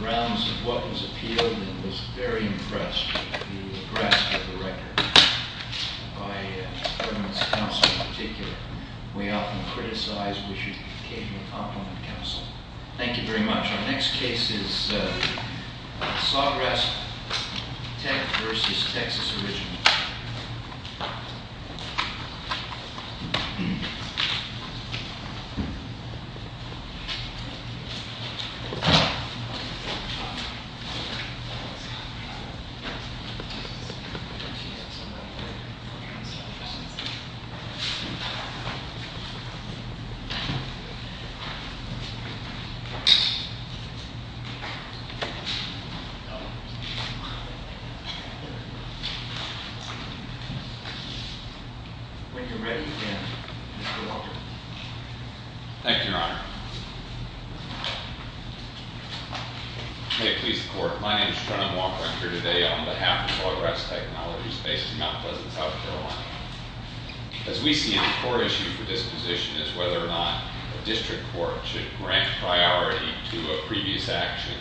rounds of what was appealed and was very impressed with the grasp of the record by the government's counsel in particular. We often criticize which became the complement counsel. Thank you very much. Our next case is Sawgrass Tech v. Texas Original. When you're ready again, Mr. Walker. Thank you, Your Honor. May it please the Court, my name is John Walker. I'm here today on behalf of Sawgrass Technologies based in Mount Pleasant, South Carolina. As we see, the core issue for this position is whether or not a district court should grant priority to a previous action.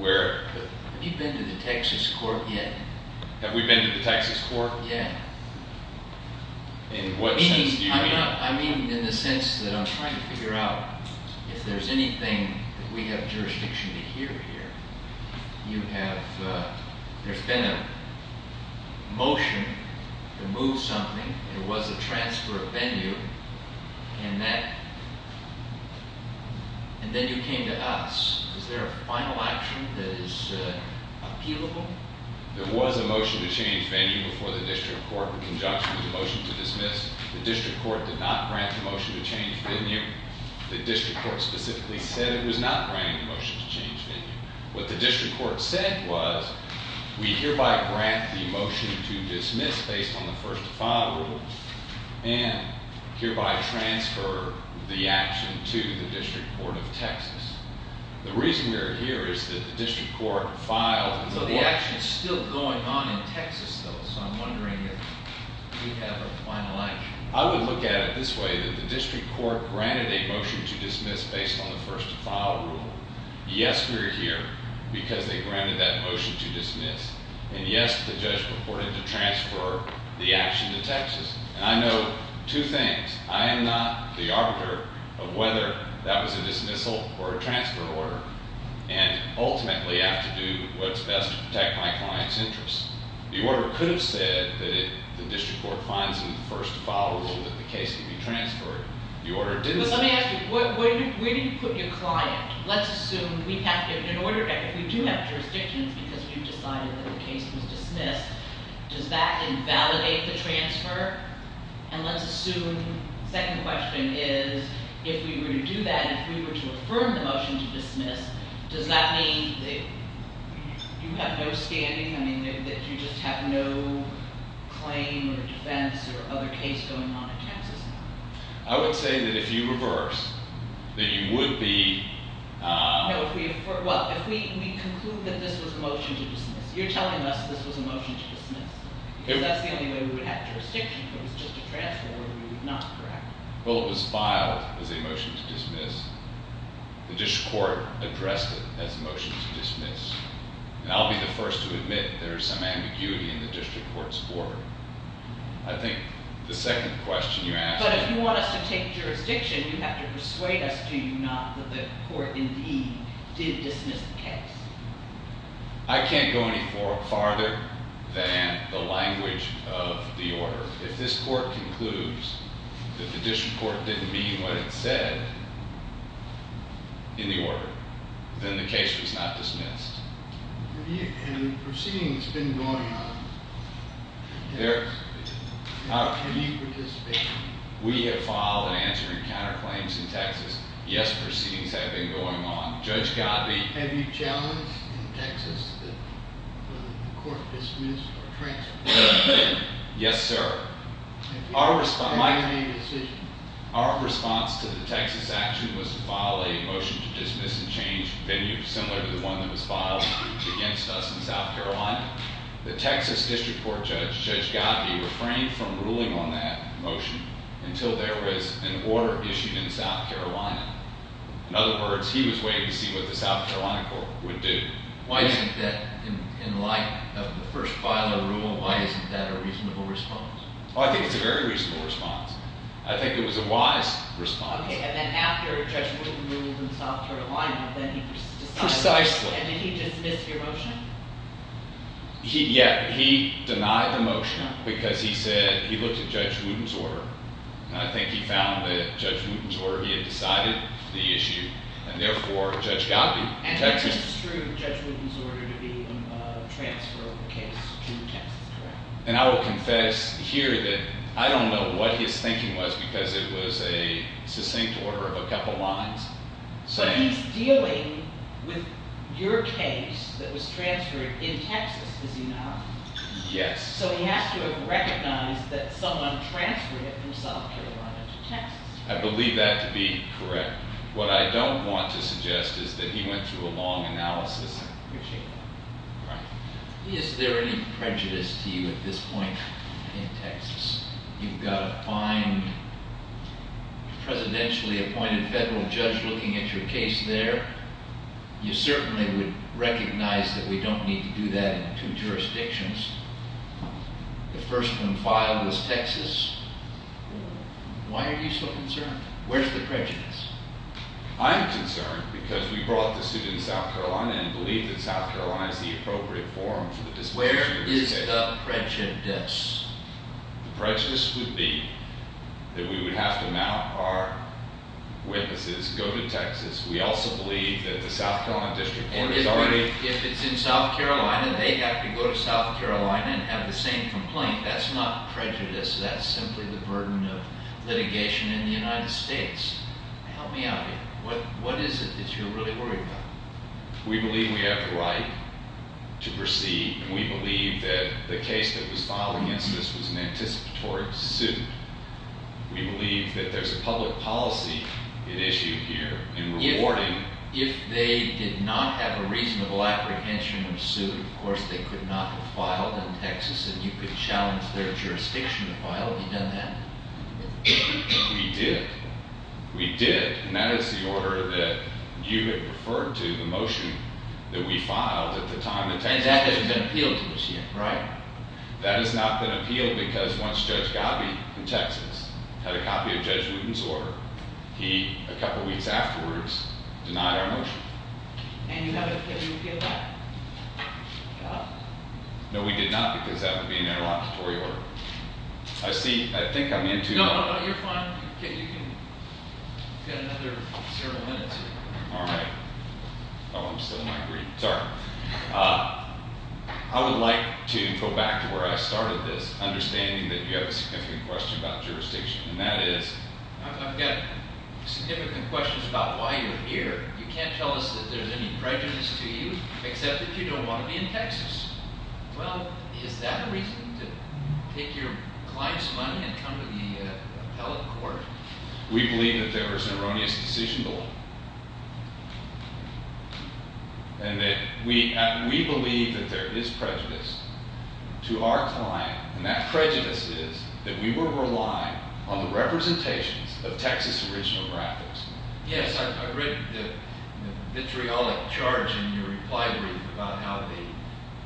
Have you been to the Texas court yet? Have we been to the Texas court? Yet. In what sense do you mean? I mean in the sense that I'm trying to figure out if there's anything that we have jurisdiction to hear here. You have, there's been a motion to move something. It was a transfer of venue and that, and then you came to us. Is there a final action that is appealable? There was a motion to change venue before the district court in conjunction with the motion to dismiss. The district court did not grant the motion to change venue. The district court specifically said it was not granting the motion to change venue. What the district court said was we hereby grant the motion to dismiss based on the first to file rule and hereby transfer the action to the district court of Texas. The reason we're here is that the district court filed. So the action is still going on in Texas though, so I'm wondering if we have a final action. I would look at it this way, that the district court granted a motion to dismiss based on the first to file rule. Yes, we're here because they granted that motion to dismiss. And yes, the judge purported to transfer the action to Texas. And I know two things. I am not the arbiter of whether that was a dismissal or a transfer order. And ultimately, I have to do what's best to protect my client's interest. The order could have said that the district court finds in the first to file rule that the case can be transferred. The order didn't say- Let me ask you, where do you put your client? Let's assume, in order, if we do have jurisdictions because we've decided that the case was dismissed, does that invalidate the transfer? And let's assume, second question is, if we were to do that, if we were to affirm the motion to dismiss, does that mean that you have no standing? I mean, that you just have no claim or defense or other case going on in Texas? I would say that if you reverse, that you would be- No, if we, well, if we conclude that this was a motion to dismiss, you're telling us this was a motion to dismiss. Because that's the only way we would have jurisdiction. If it was just a transfer order, we would not correct. Well, it was filed as a motion to dismiss. The district court addressed it as a motion to dismiss. And I'll be the first to admit there is some ambiguity in the district court's order. I think the second question you asked- But if you want us to take jurisdiction, you have to persuade us, do you not, that the court indeed did dismiss the case? I can't go any farther than the language of the order. If this court concludes that the district court didn't mean what it said in the order, then the case was not dismissed. Have proceedings been going on in Texas? Have you participated? We have filed an answer in counterclaims in Texas. Yes, proceedings have been going on. Judge Gottlieb- Have you challenged in Texas that the court dismiss or transfer? Yes, sir. Have you made a decision? Our response to the Texas action was to file a motion to dismiss and change venue similar to the one that was filed against us in South Carolina. The Texas district court judge, Judge Gottlieb, refrained from ruling on that motion until there was an order issued in South Carolina. In other words, he was waiting to see what the South Carolina court would do. Why isn't that, in light of the first file of the rule, why isn't that a reasonable response? Oh, I think it's a very reasonable response. I think it was a wise response. Okay, and then after Judge Wooten ruled in South Carolina, then he decided- Precisely. And did he dismiss the motion? Yeah, he denied the motion because he said he looked at Judge Wooten's order, and I think he found that Judge Wooten's order, he had decided the issue, and therefore, Judge Gottlieb- And that construed Judge Wooten's order to be a transfer of the case to Texas, correct? And I will confess here that I don't know what his thinking was because it was a succinct order of a couple lines. But he's dealing with your case that was transferred in Texas, is he not? Yes. So he has to have recognized that someone transferred it from South Carolina to Texas. I believe that to be correct. What I don't want to suggest is that he went through a long analysis. Is there any prejudice to you at this point in Texas? You've got a fine, presidentially appointed federal judge looking at your case there. You certainly would recognize that we don't need to do that in two jurisdictions. The first one filed was Texas. Why are you so concerned? Where's the prejudice? I'm concerned because we brought the suit in South Carolina and believe that South Carolina is the appropriate forum for the disposition of the case. Where is the prejudice? The prejudice would be that we would have to mount our witnesses, go to Texas. We also believe that the South Carolina district court is already- If it's in South Carolina, they have to go to South Carolina and have the same complaint. That's not prejudice. That's simply the burden of litigation in the United States. Help me out here. What is it that you're really worried about? We believe we have the right to proceed, and we believe that the case that was filed against us was an anticipatory suit. We believe that there's a public policy at issue here in rewarding- If they did not have a reasonable apprehension of suit, of course they could not have filed in Texas, and you could challenge their jurisdiction to file. Have you done that? We did. We did, and that is the order that you had referred to, the motion that we filed at the time that Texas- And that has been appealed to this year. Right. That has not been appealed because once Judge Gabby in Texas had a copy of Judge Wooden's order, he, a couple weeks afterwards, denied our motion. And you haven't appealed that? No, we did not because that would be an interlocutory order. I see, I think I'm into- No, no, you're fine. You can get another several minutes here. All right. Oh, I'm still in my brief. Sorry. I would like to go back to where I started this, understanding that you have a significant question about jurisdiction, and that is- I've got significant questions about why you're here. You can't tell us that there's any prejudice to you, except that you don't want to be in Texas. Well, is that a reason to take your client's money and come to the appellate court? We believe that there is an erroneous decision to make. And that we believe that there is prejudice to our client, and that prejudice is that we will rely on the representations of Texas original graphics. Yes, I read the vitriolic charge in your reply brief about how they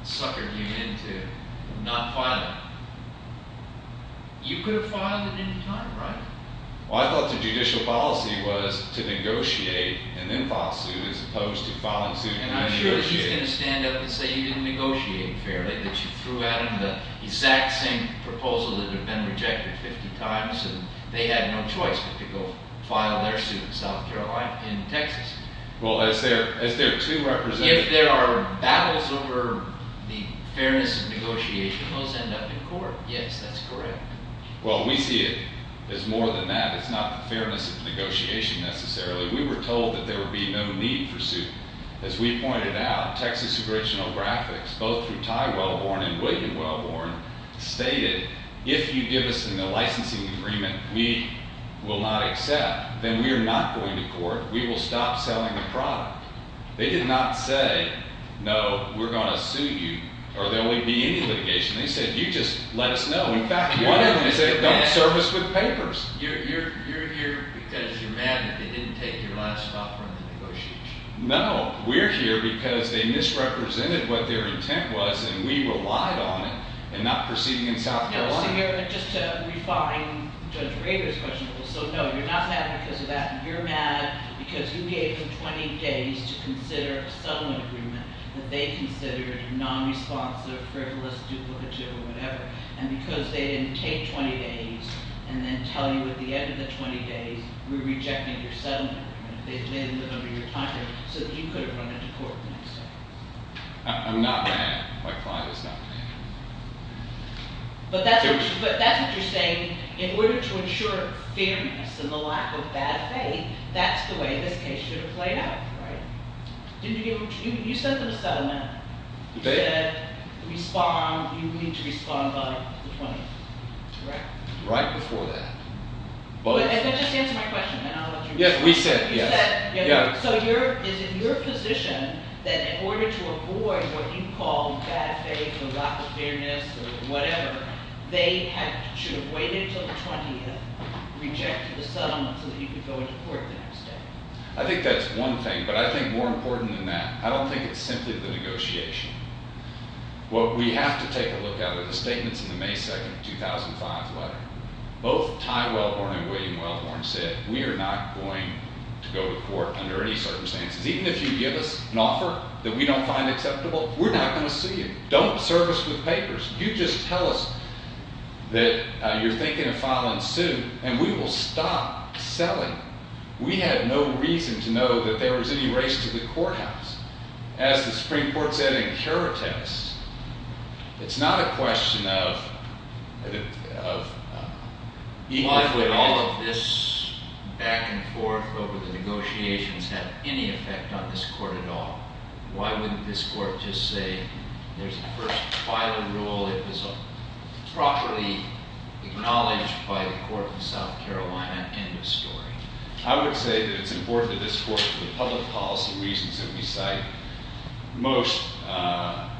suckered you into not filing. You could have filed at any time, right? Well, I thought the judicial policy was to negotiate and then file a suit, as opposed to filing suit and negotiating. And I'm sure he's going to stand up and say you didn't negotiate fairly, that you threw out an exact same proposal that had been rejected 50 times, and they had no choice but to go file their suit in South Carolina, in Texas. Well, as their two representatives- If there are battles over the fairness of negotiation, those end up in court. Yes, that's correct. Well, we see it as more than that. It's not the fairness of negotiation, necessarily. We were told that there would be no need for suit. As we pointed out, Texas original graphics, both through Ty Wellborn and William Wellborn, stated, if you give us a licensing agreement we will not accept, then we are not going to court. We will stop selling the product. They did not say, no, we're going to sue you, or there won't be any litigation. They said, you just let us know. In fact, one of them said, don't serve us with papers. You're here because you're mad that they didn't take your last offer in the negotiation. No, we're here because they misrepresented what their intent was, and we relied on it. And not proceeding in South Carolina. Just to refine Judge Rader's question, so no, you're not mad because of that. You're mad because you gave them 20 days to consider a settlement agreement that they considered non-responsive, frivolous, duplicative, or whatever. And because they didn't take 20 days, and then tell you at the end of the 20 days, we're rejecting your settlement. They didn't live up to your time frame, so you could have run into court the next day. I'm not mad. My client is not mad. But that's what you're saying, in order to ensure fairness and the lack of bad faith, that's the way this case should have played out, right? You sent them a settlement. You said, respond, you need to respond by the 20th. Right before that. If that just answers my question, then I'll let you respond. Yes, we said, yes. So is it your position that in order to avoid what you call bad faith or lack of fairness or whatever, they should have waited until the 20th, rejected the settlement so that you could go into court the next day? I think that's one thing. But I think more important than that, I don't think it's simply the negotiation. What we have to take a look at are the statements in the May 2, 2005 letter. Both Ty Wellhorn and William Wellhorn said, we are not going to go to court under any circumstances. Even if you give us an offer that we don't find acceptable, we're not going to see it. Don't serve us with papers. You just tell us that you're thinking of filing soon, and we will stop selling. We had no reason to know that there was any race to the courthouse. As the Supreme Court said in Caritas, it's not a question of equally all of this back and forth over the negotiations have any effect on this court at all. Why wouldn't this court just say, there's a first filer rule. It was properly acknowledged by the court in South Carolina. End of story. I would say that it's important to this court for the public policy reasons that we cite. Most are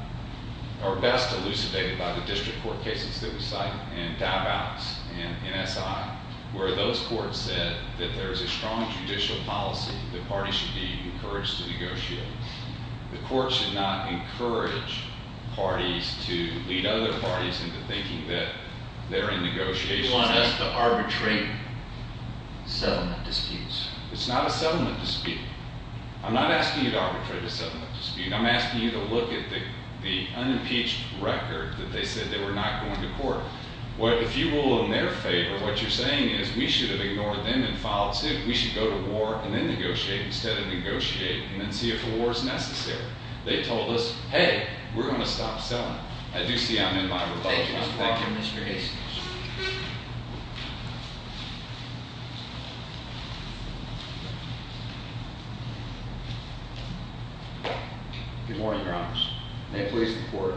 best elucidated by the district court cases that we cite, and Dabouts, and NSI. Where those courts said that there is a strong judicial policy. The party should be encouraged to negotiate. The court should not encourage parties to lead other parties into thinking that they're in negotiations. They want us to arbitrate settlement disputes. It's not a settlement dispute. I'm not asking you to arbitrate a settlement dispute. I'm asking you to look at the unimpeached record that they said they were not going to court. If you rule in their favor, what you're saying is we should have ignored them and filed soon. We should go to war and then negotiate instead of negotiating and then see if a war is necessary. They told us, hey, we're going to stop selling. I do see I'm in my rebuttal. Thank you, Mr. Baxter and Mr. Hastings. Good morning, Your Honors. May it please the court.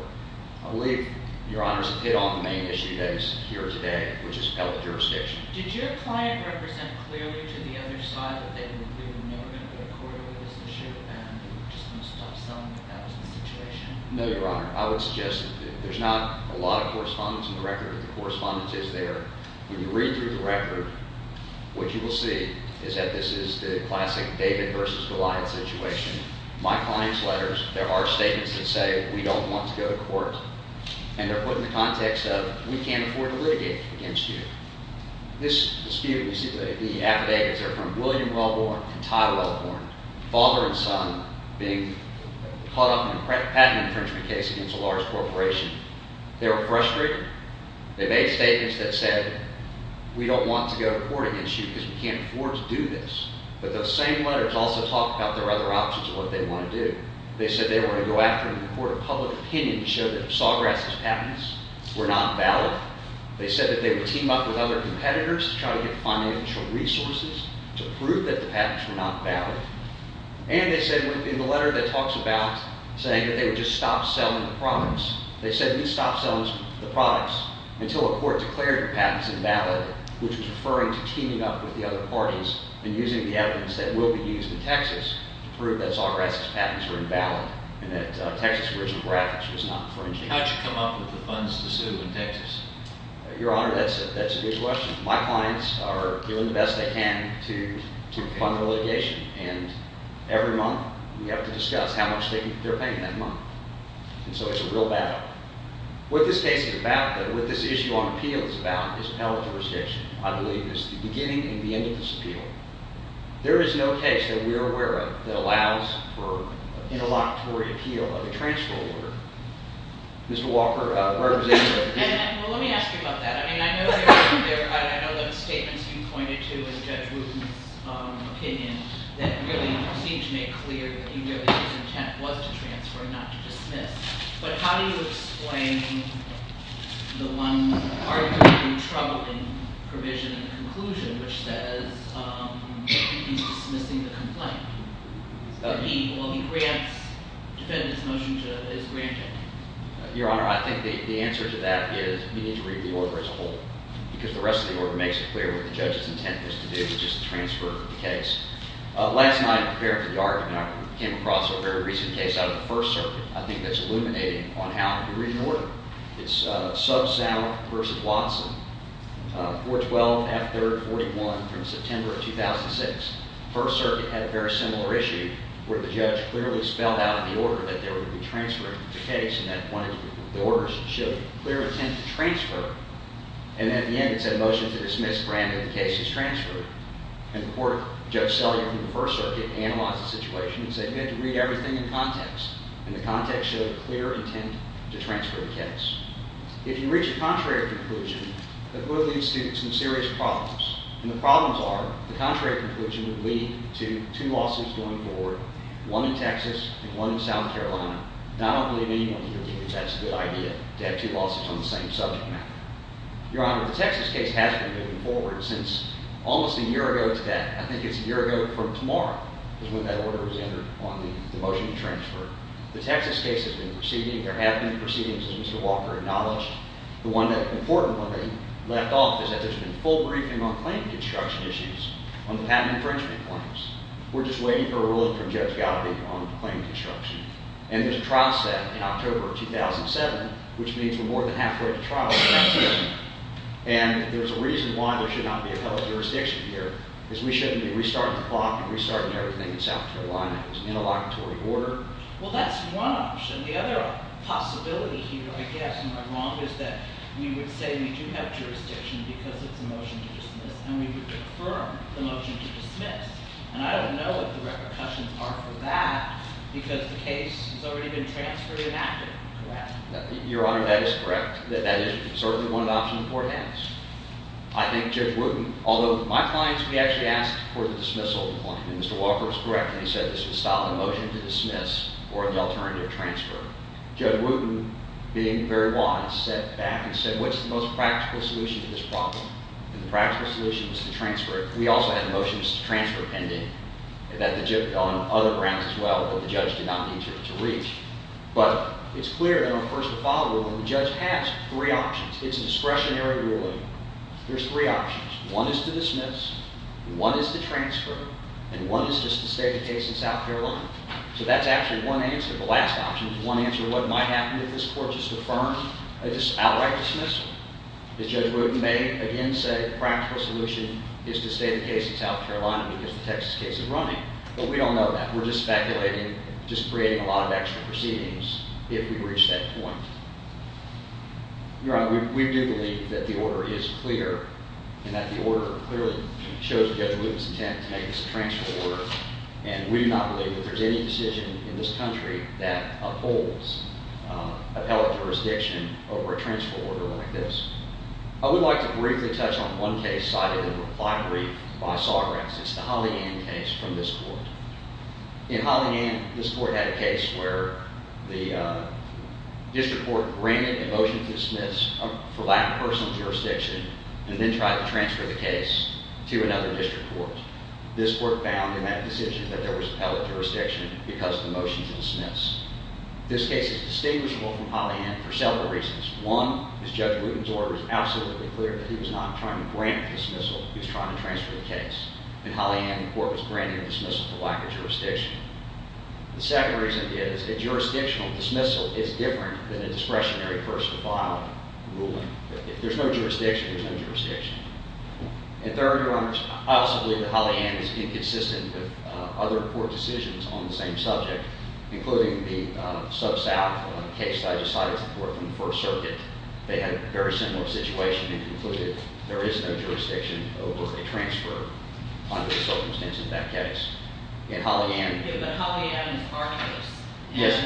I believe Your Honors hit on the main issue that is here today, which is health jurisdiction. Did your client represent clearly to the other side that they knew they were never going to go to court over this issue and they were just going to stop selling if that was the situation? No, Your Honor. I would suggest that there's not a lot of correspondence in the record, but the correspondence is there. When you read through the record, what you will see is that this is the classic David versus Goliath situation. My client's letters, there are statements that say we don't want to go to court, and they're put in the context of we can't afford to litigate against you. This dispute, you see the affidavits are from William Welborn and Ty Welborn, father and son being caught up in a patent infringement case against a large corporation. They were frustrated. They made statements that said we don't want to go to court against you because we can't afford to do this. But those same letters also talk about there are other options of what they want to do. They said they were going to go after them in court of public opinion to show that Sawgrass's patents were not valid. They said that they would team up with other competitors to try to get financial resources to prove that the patents were not valid. And they said in the letter that talks about saying that they would just stop selling the products, they said we'd stop selling the products until a court declared the patents invalid, which was referring to teaming up with the other parties and using the evidence that will be used in Texas to prove that Sawgrass's patents were invalid and that Texas original graphics was not infringing. How did you come up with the funds to sue in Texas? Your Honor, that's a good question. My clients are doing the best they can to fund the litigation, and every month we have to discuss how much they're paying that month. And so it's a real battle. What this case is about, what this issue on appeal is about, is appellate jurisdiction. I believe it's the beginning and the end of this appeal. There is no case that we are aware of that allows for an interlocutory appeal of a transfer order. Mr. Walker, where was I? Well, let me ask you about that. I mean, I know there were statements you pointed to in Judge Wooden's opinion that really seemed to make clear that he knew that his intent was to transfer and not to dismiss. But how do you explain the one arguably troubling provision in the conclusion, which says he's dismissing the complaint? Well, he grants defendant's motion is granted. Your Honor, I think the answer to that is you need to read the order as a whole because the rest of the order makes it clear what the judge's intent was to do, which is to transfer the case. Last night, preparing for the argument, I came across a very recent case out of the First Circuit I think that's illuminating on how to read an order. It's Subsound v. Watson, 4-12-F-3-41 from September of 2006. First Circuit had a very similar issue where the judge clearly spelled out in the order that there would be transfer of the case, and that one of the orders showed a clear intent to transfer. And at the end, it said motion to dismiss granted the case is transferred. And the court, Judge Sellier from the First Circuit, analyzed the situation and said, you have to read everything in context. And the context showed a clear intent to transfer the case. If you reach a contrary conclusion, the court leaves students in serious problems. And the problems are the contrary conclusion would lead to two losses going forward, one in Texas and one in South Carolina. And I don't believe anyone can agree that that's a good idea to have two losses on the same subject matter. Your Honor, the Texas case has been moving forward since almost a year ago today. I think it's a year ago from tomorrow is when that order was entered on the motion to transfer. The Texas case has been proceeding. There have been proceedings, as Mr. Walker acknowledged. The one that importantly left off is that there's been a full briefing on claim construction issues, on the patent infringement claims. We're just waiting for a ruling from Judge Galpin on claim construction. And there's a trial set in October of 2007, which means we're more than halfway to trial next year. And there's a reason why there should not be appellate jurisdiction here, is we shouldn't be restarting the clock and restarting everything in South Carolina. It's an interlocutory order. Well, that's one option. The other possibility here, I guess, and I'm wrong, is that we would say we do have jurisdiction because it's a motion to dismiss, and we would confirm the motion to dismiss. And I don't know what the repercussions are for that because the case has already been transferred and acted, correct? Your Honor, that is correct. That is certainly one of the options the court has. I think Judge Wooten, although my clients, we actually asked for the dismissal. Mr. Walker was correct when he said this was a solid motion to dismiss or an alternative transfer. Judge Wooten, being very wise, sat back and said, what's the most practical solution to this problem? And the practical solution was to transfer it. We also had a motion to transfer pending on other grounds as well that the judge did not need to reach. But it's clear that our first and final ruling, the judge has three options. It's a discretionary ruling. There's three options. One is to dismiss, one is to transfer, and one is just to stay the case in South Carolina. So that's actually one answer. The last option is one answer to what might happen if this court just outright dismisses it. As Judge Wooten may again say, the practical solution is to stay the case in South Carolina because the Texas case is running. But we don't know that. We're just speculating, just creating a lot of extra proceedings if we reach that point. Your Honor, we do believe that the order is clear and that the order clearly shows Judge Wooten's intent to make this a transfer order. And we do not believe that there's any decision in this country that upholds appellate jurisdiction over a transfer order like this. I would like to briefly touch on one case cited in the reply brief by Sawgrass. It's the Holleyand case from this court. In Holleyand, this court had a case where the district court granted a motion to dismiss for lack of personal jurisdiction and then tried to transfer the case to another district court. This court found in that decision that there was appellate jurisdiction because the motion is dismissed. This case is distinguishable from Holleyand for several reasons. One is Judge Wooten's order is absolutely clear that he was not trying to grant dismissal. He was trying to transfer the case. In Holleyand, the court was granting a dismissal for lack of jurisdiction. The second reason is a jurisdictional dismissal is different than a discretionary first of file ruling. If there's no jurisdiction, there's no jurisdiction. And third, Your Honors, I also believe that Holleyand is inconsistent with other court decisions on the same subject, including the sub-South case that I just cited before from the First Circuit. They had a very similar situation. They concluded there is no jurisdiction over a transfer under the circumstances of that case. In Holleyand- But Holleyand is our case. Yes.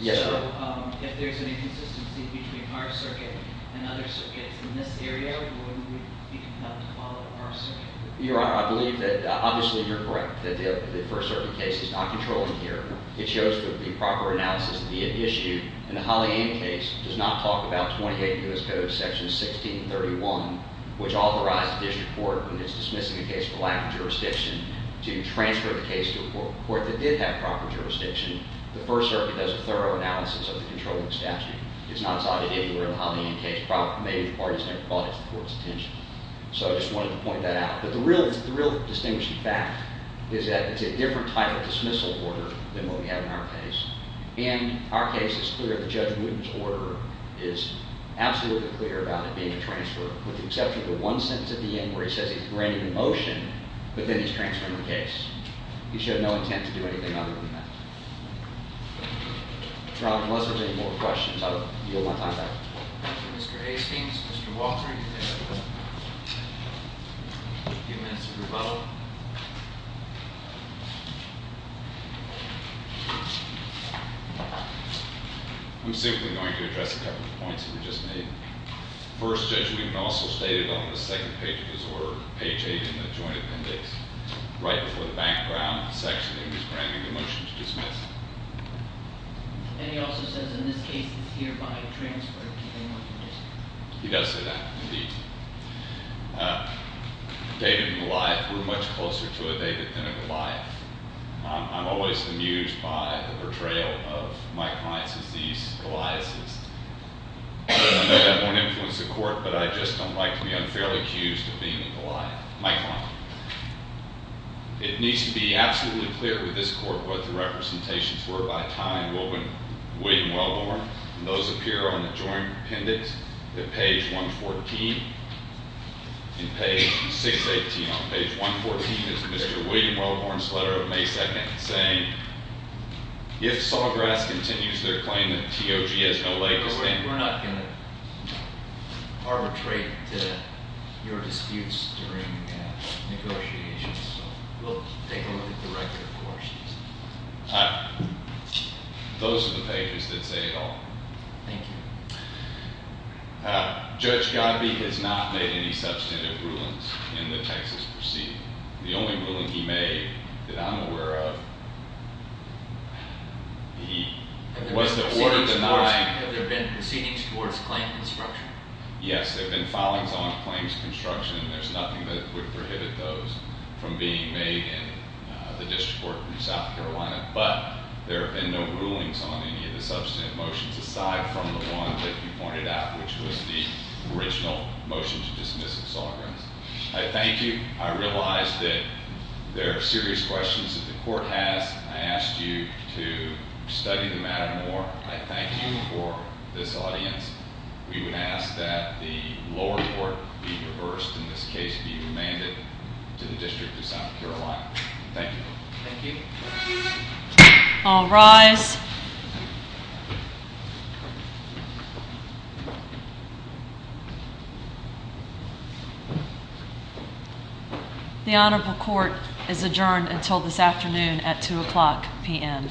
Yes, sir. So if there's an inconsistency between our circuit and other circuits in this area, wouldn't we be compelled to follow our circuit? Your Honor, I believe that obviously you're correct that the First Circuit case is not controlling here. It shows that the proper analysis of the issue in the Holleyand case does not talk about 28 U.S. Code Section 1631, which authorized the district court when it's dismissing a case for lack of jurisdiction to transfer the case to a court that did have proper jurisdiction. The First Circuit does a thorough analysis of the controlling statute. It's not cited anywhere in the Holleyand case. Maybe the parties never brought it to the court's attention. So I just wanted to point that out. But the real distinguishing fact is that it's a different type of dismissal order than what we have in our case. In our case, it's clear that Judge Wooten's order is absolutely clear about it being a transfer, with the exception of the one sentence at the end where he says he's granted a motion, but then he's transferring the case. He should have no intent to do anything other than that. If there aren't any more questions, I will yield my time back. Thank you, Mr. Hastings. Mr. Walker, do you have a few minutes to move on? I'm simply going to address a couple of points that were just made. First, Judge Wooten also stated on the second page of his order, page 8 in the joint appendix, right before the background section, he was granting the motion to dismiss. And he also says, in this case, it's hereby transferred. He does say that, indeed. David and Goliath were much closer to a David than a Goliath. I'm always amused by the portrayal of Mike Lyons as these Goliaths. I know that won't influence the court, but I just don't like to be unfairly accused of being a Goliath. Mike Lyons. It needs to be absolutely clear to this court what the representations were by Ty and William Wellborn. And those appear on the joint appendix at page 114. And page 618 on page 114 is Mr. William Wellborn's letter of May 2nd, saying, if Sawgrass continues their claim that TOG has no leg to stand on- Negotiations, so we'll take a look at the record, of course. Those are the pages that say it all. Thank you. Judge Godbee has not made any substantive rulings in the Texas proceeding. The only ruling he made that I'm aware of, he was the order denied- Have there been proceedings towards claim construction? Yes, there have been filings on claims construction, and there's nothing that would prohibit those from being made in the district court in South Carolina. But there have been no rulings on any of the substantive motions aside from the one that you pointed out, which was the original motion to dismiss Sawgrass. I thank you. I realize that there are serious questions that the court has. I asked you to study the matter more. I thank you for this audience. We would ask that the lower court be reversed, in this case be remanded to the district of South Carolina. Thank you. Thank you. All rise. The honorable court is adjourned until this afternoon at 2 o'clock p.m. Nice work. Thank you.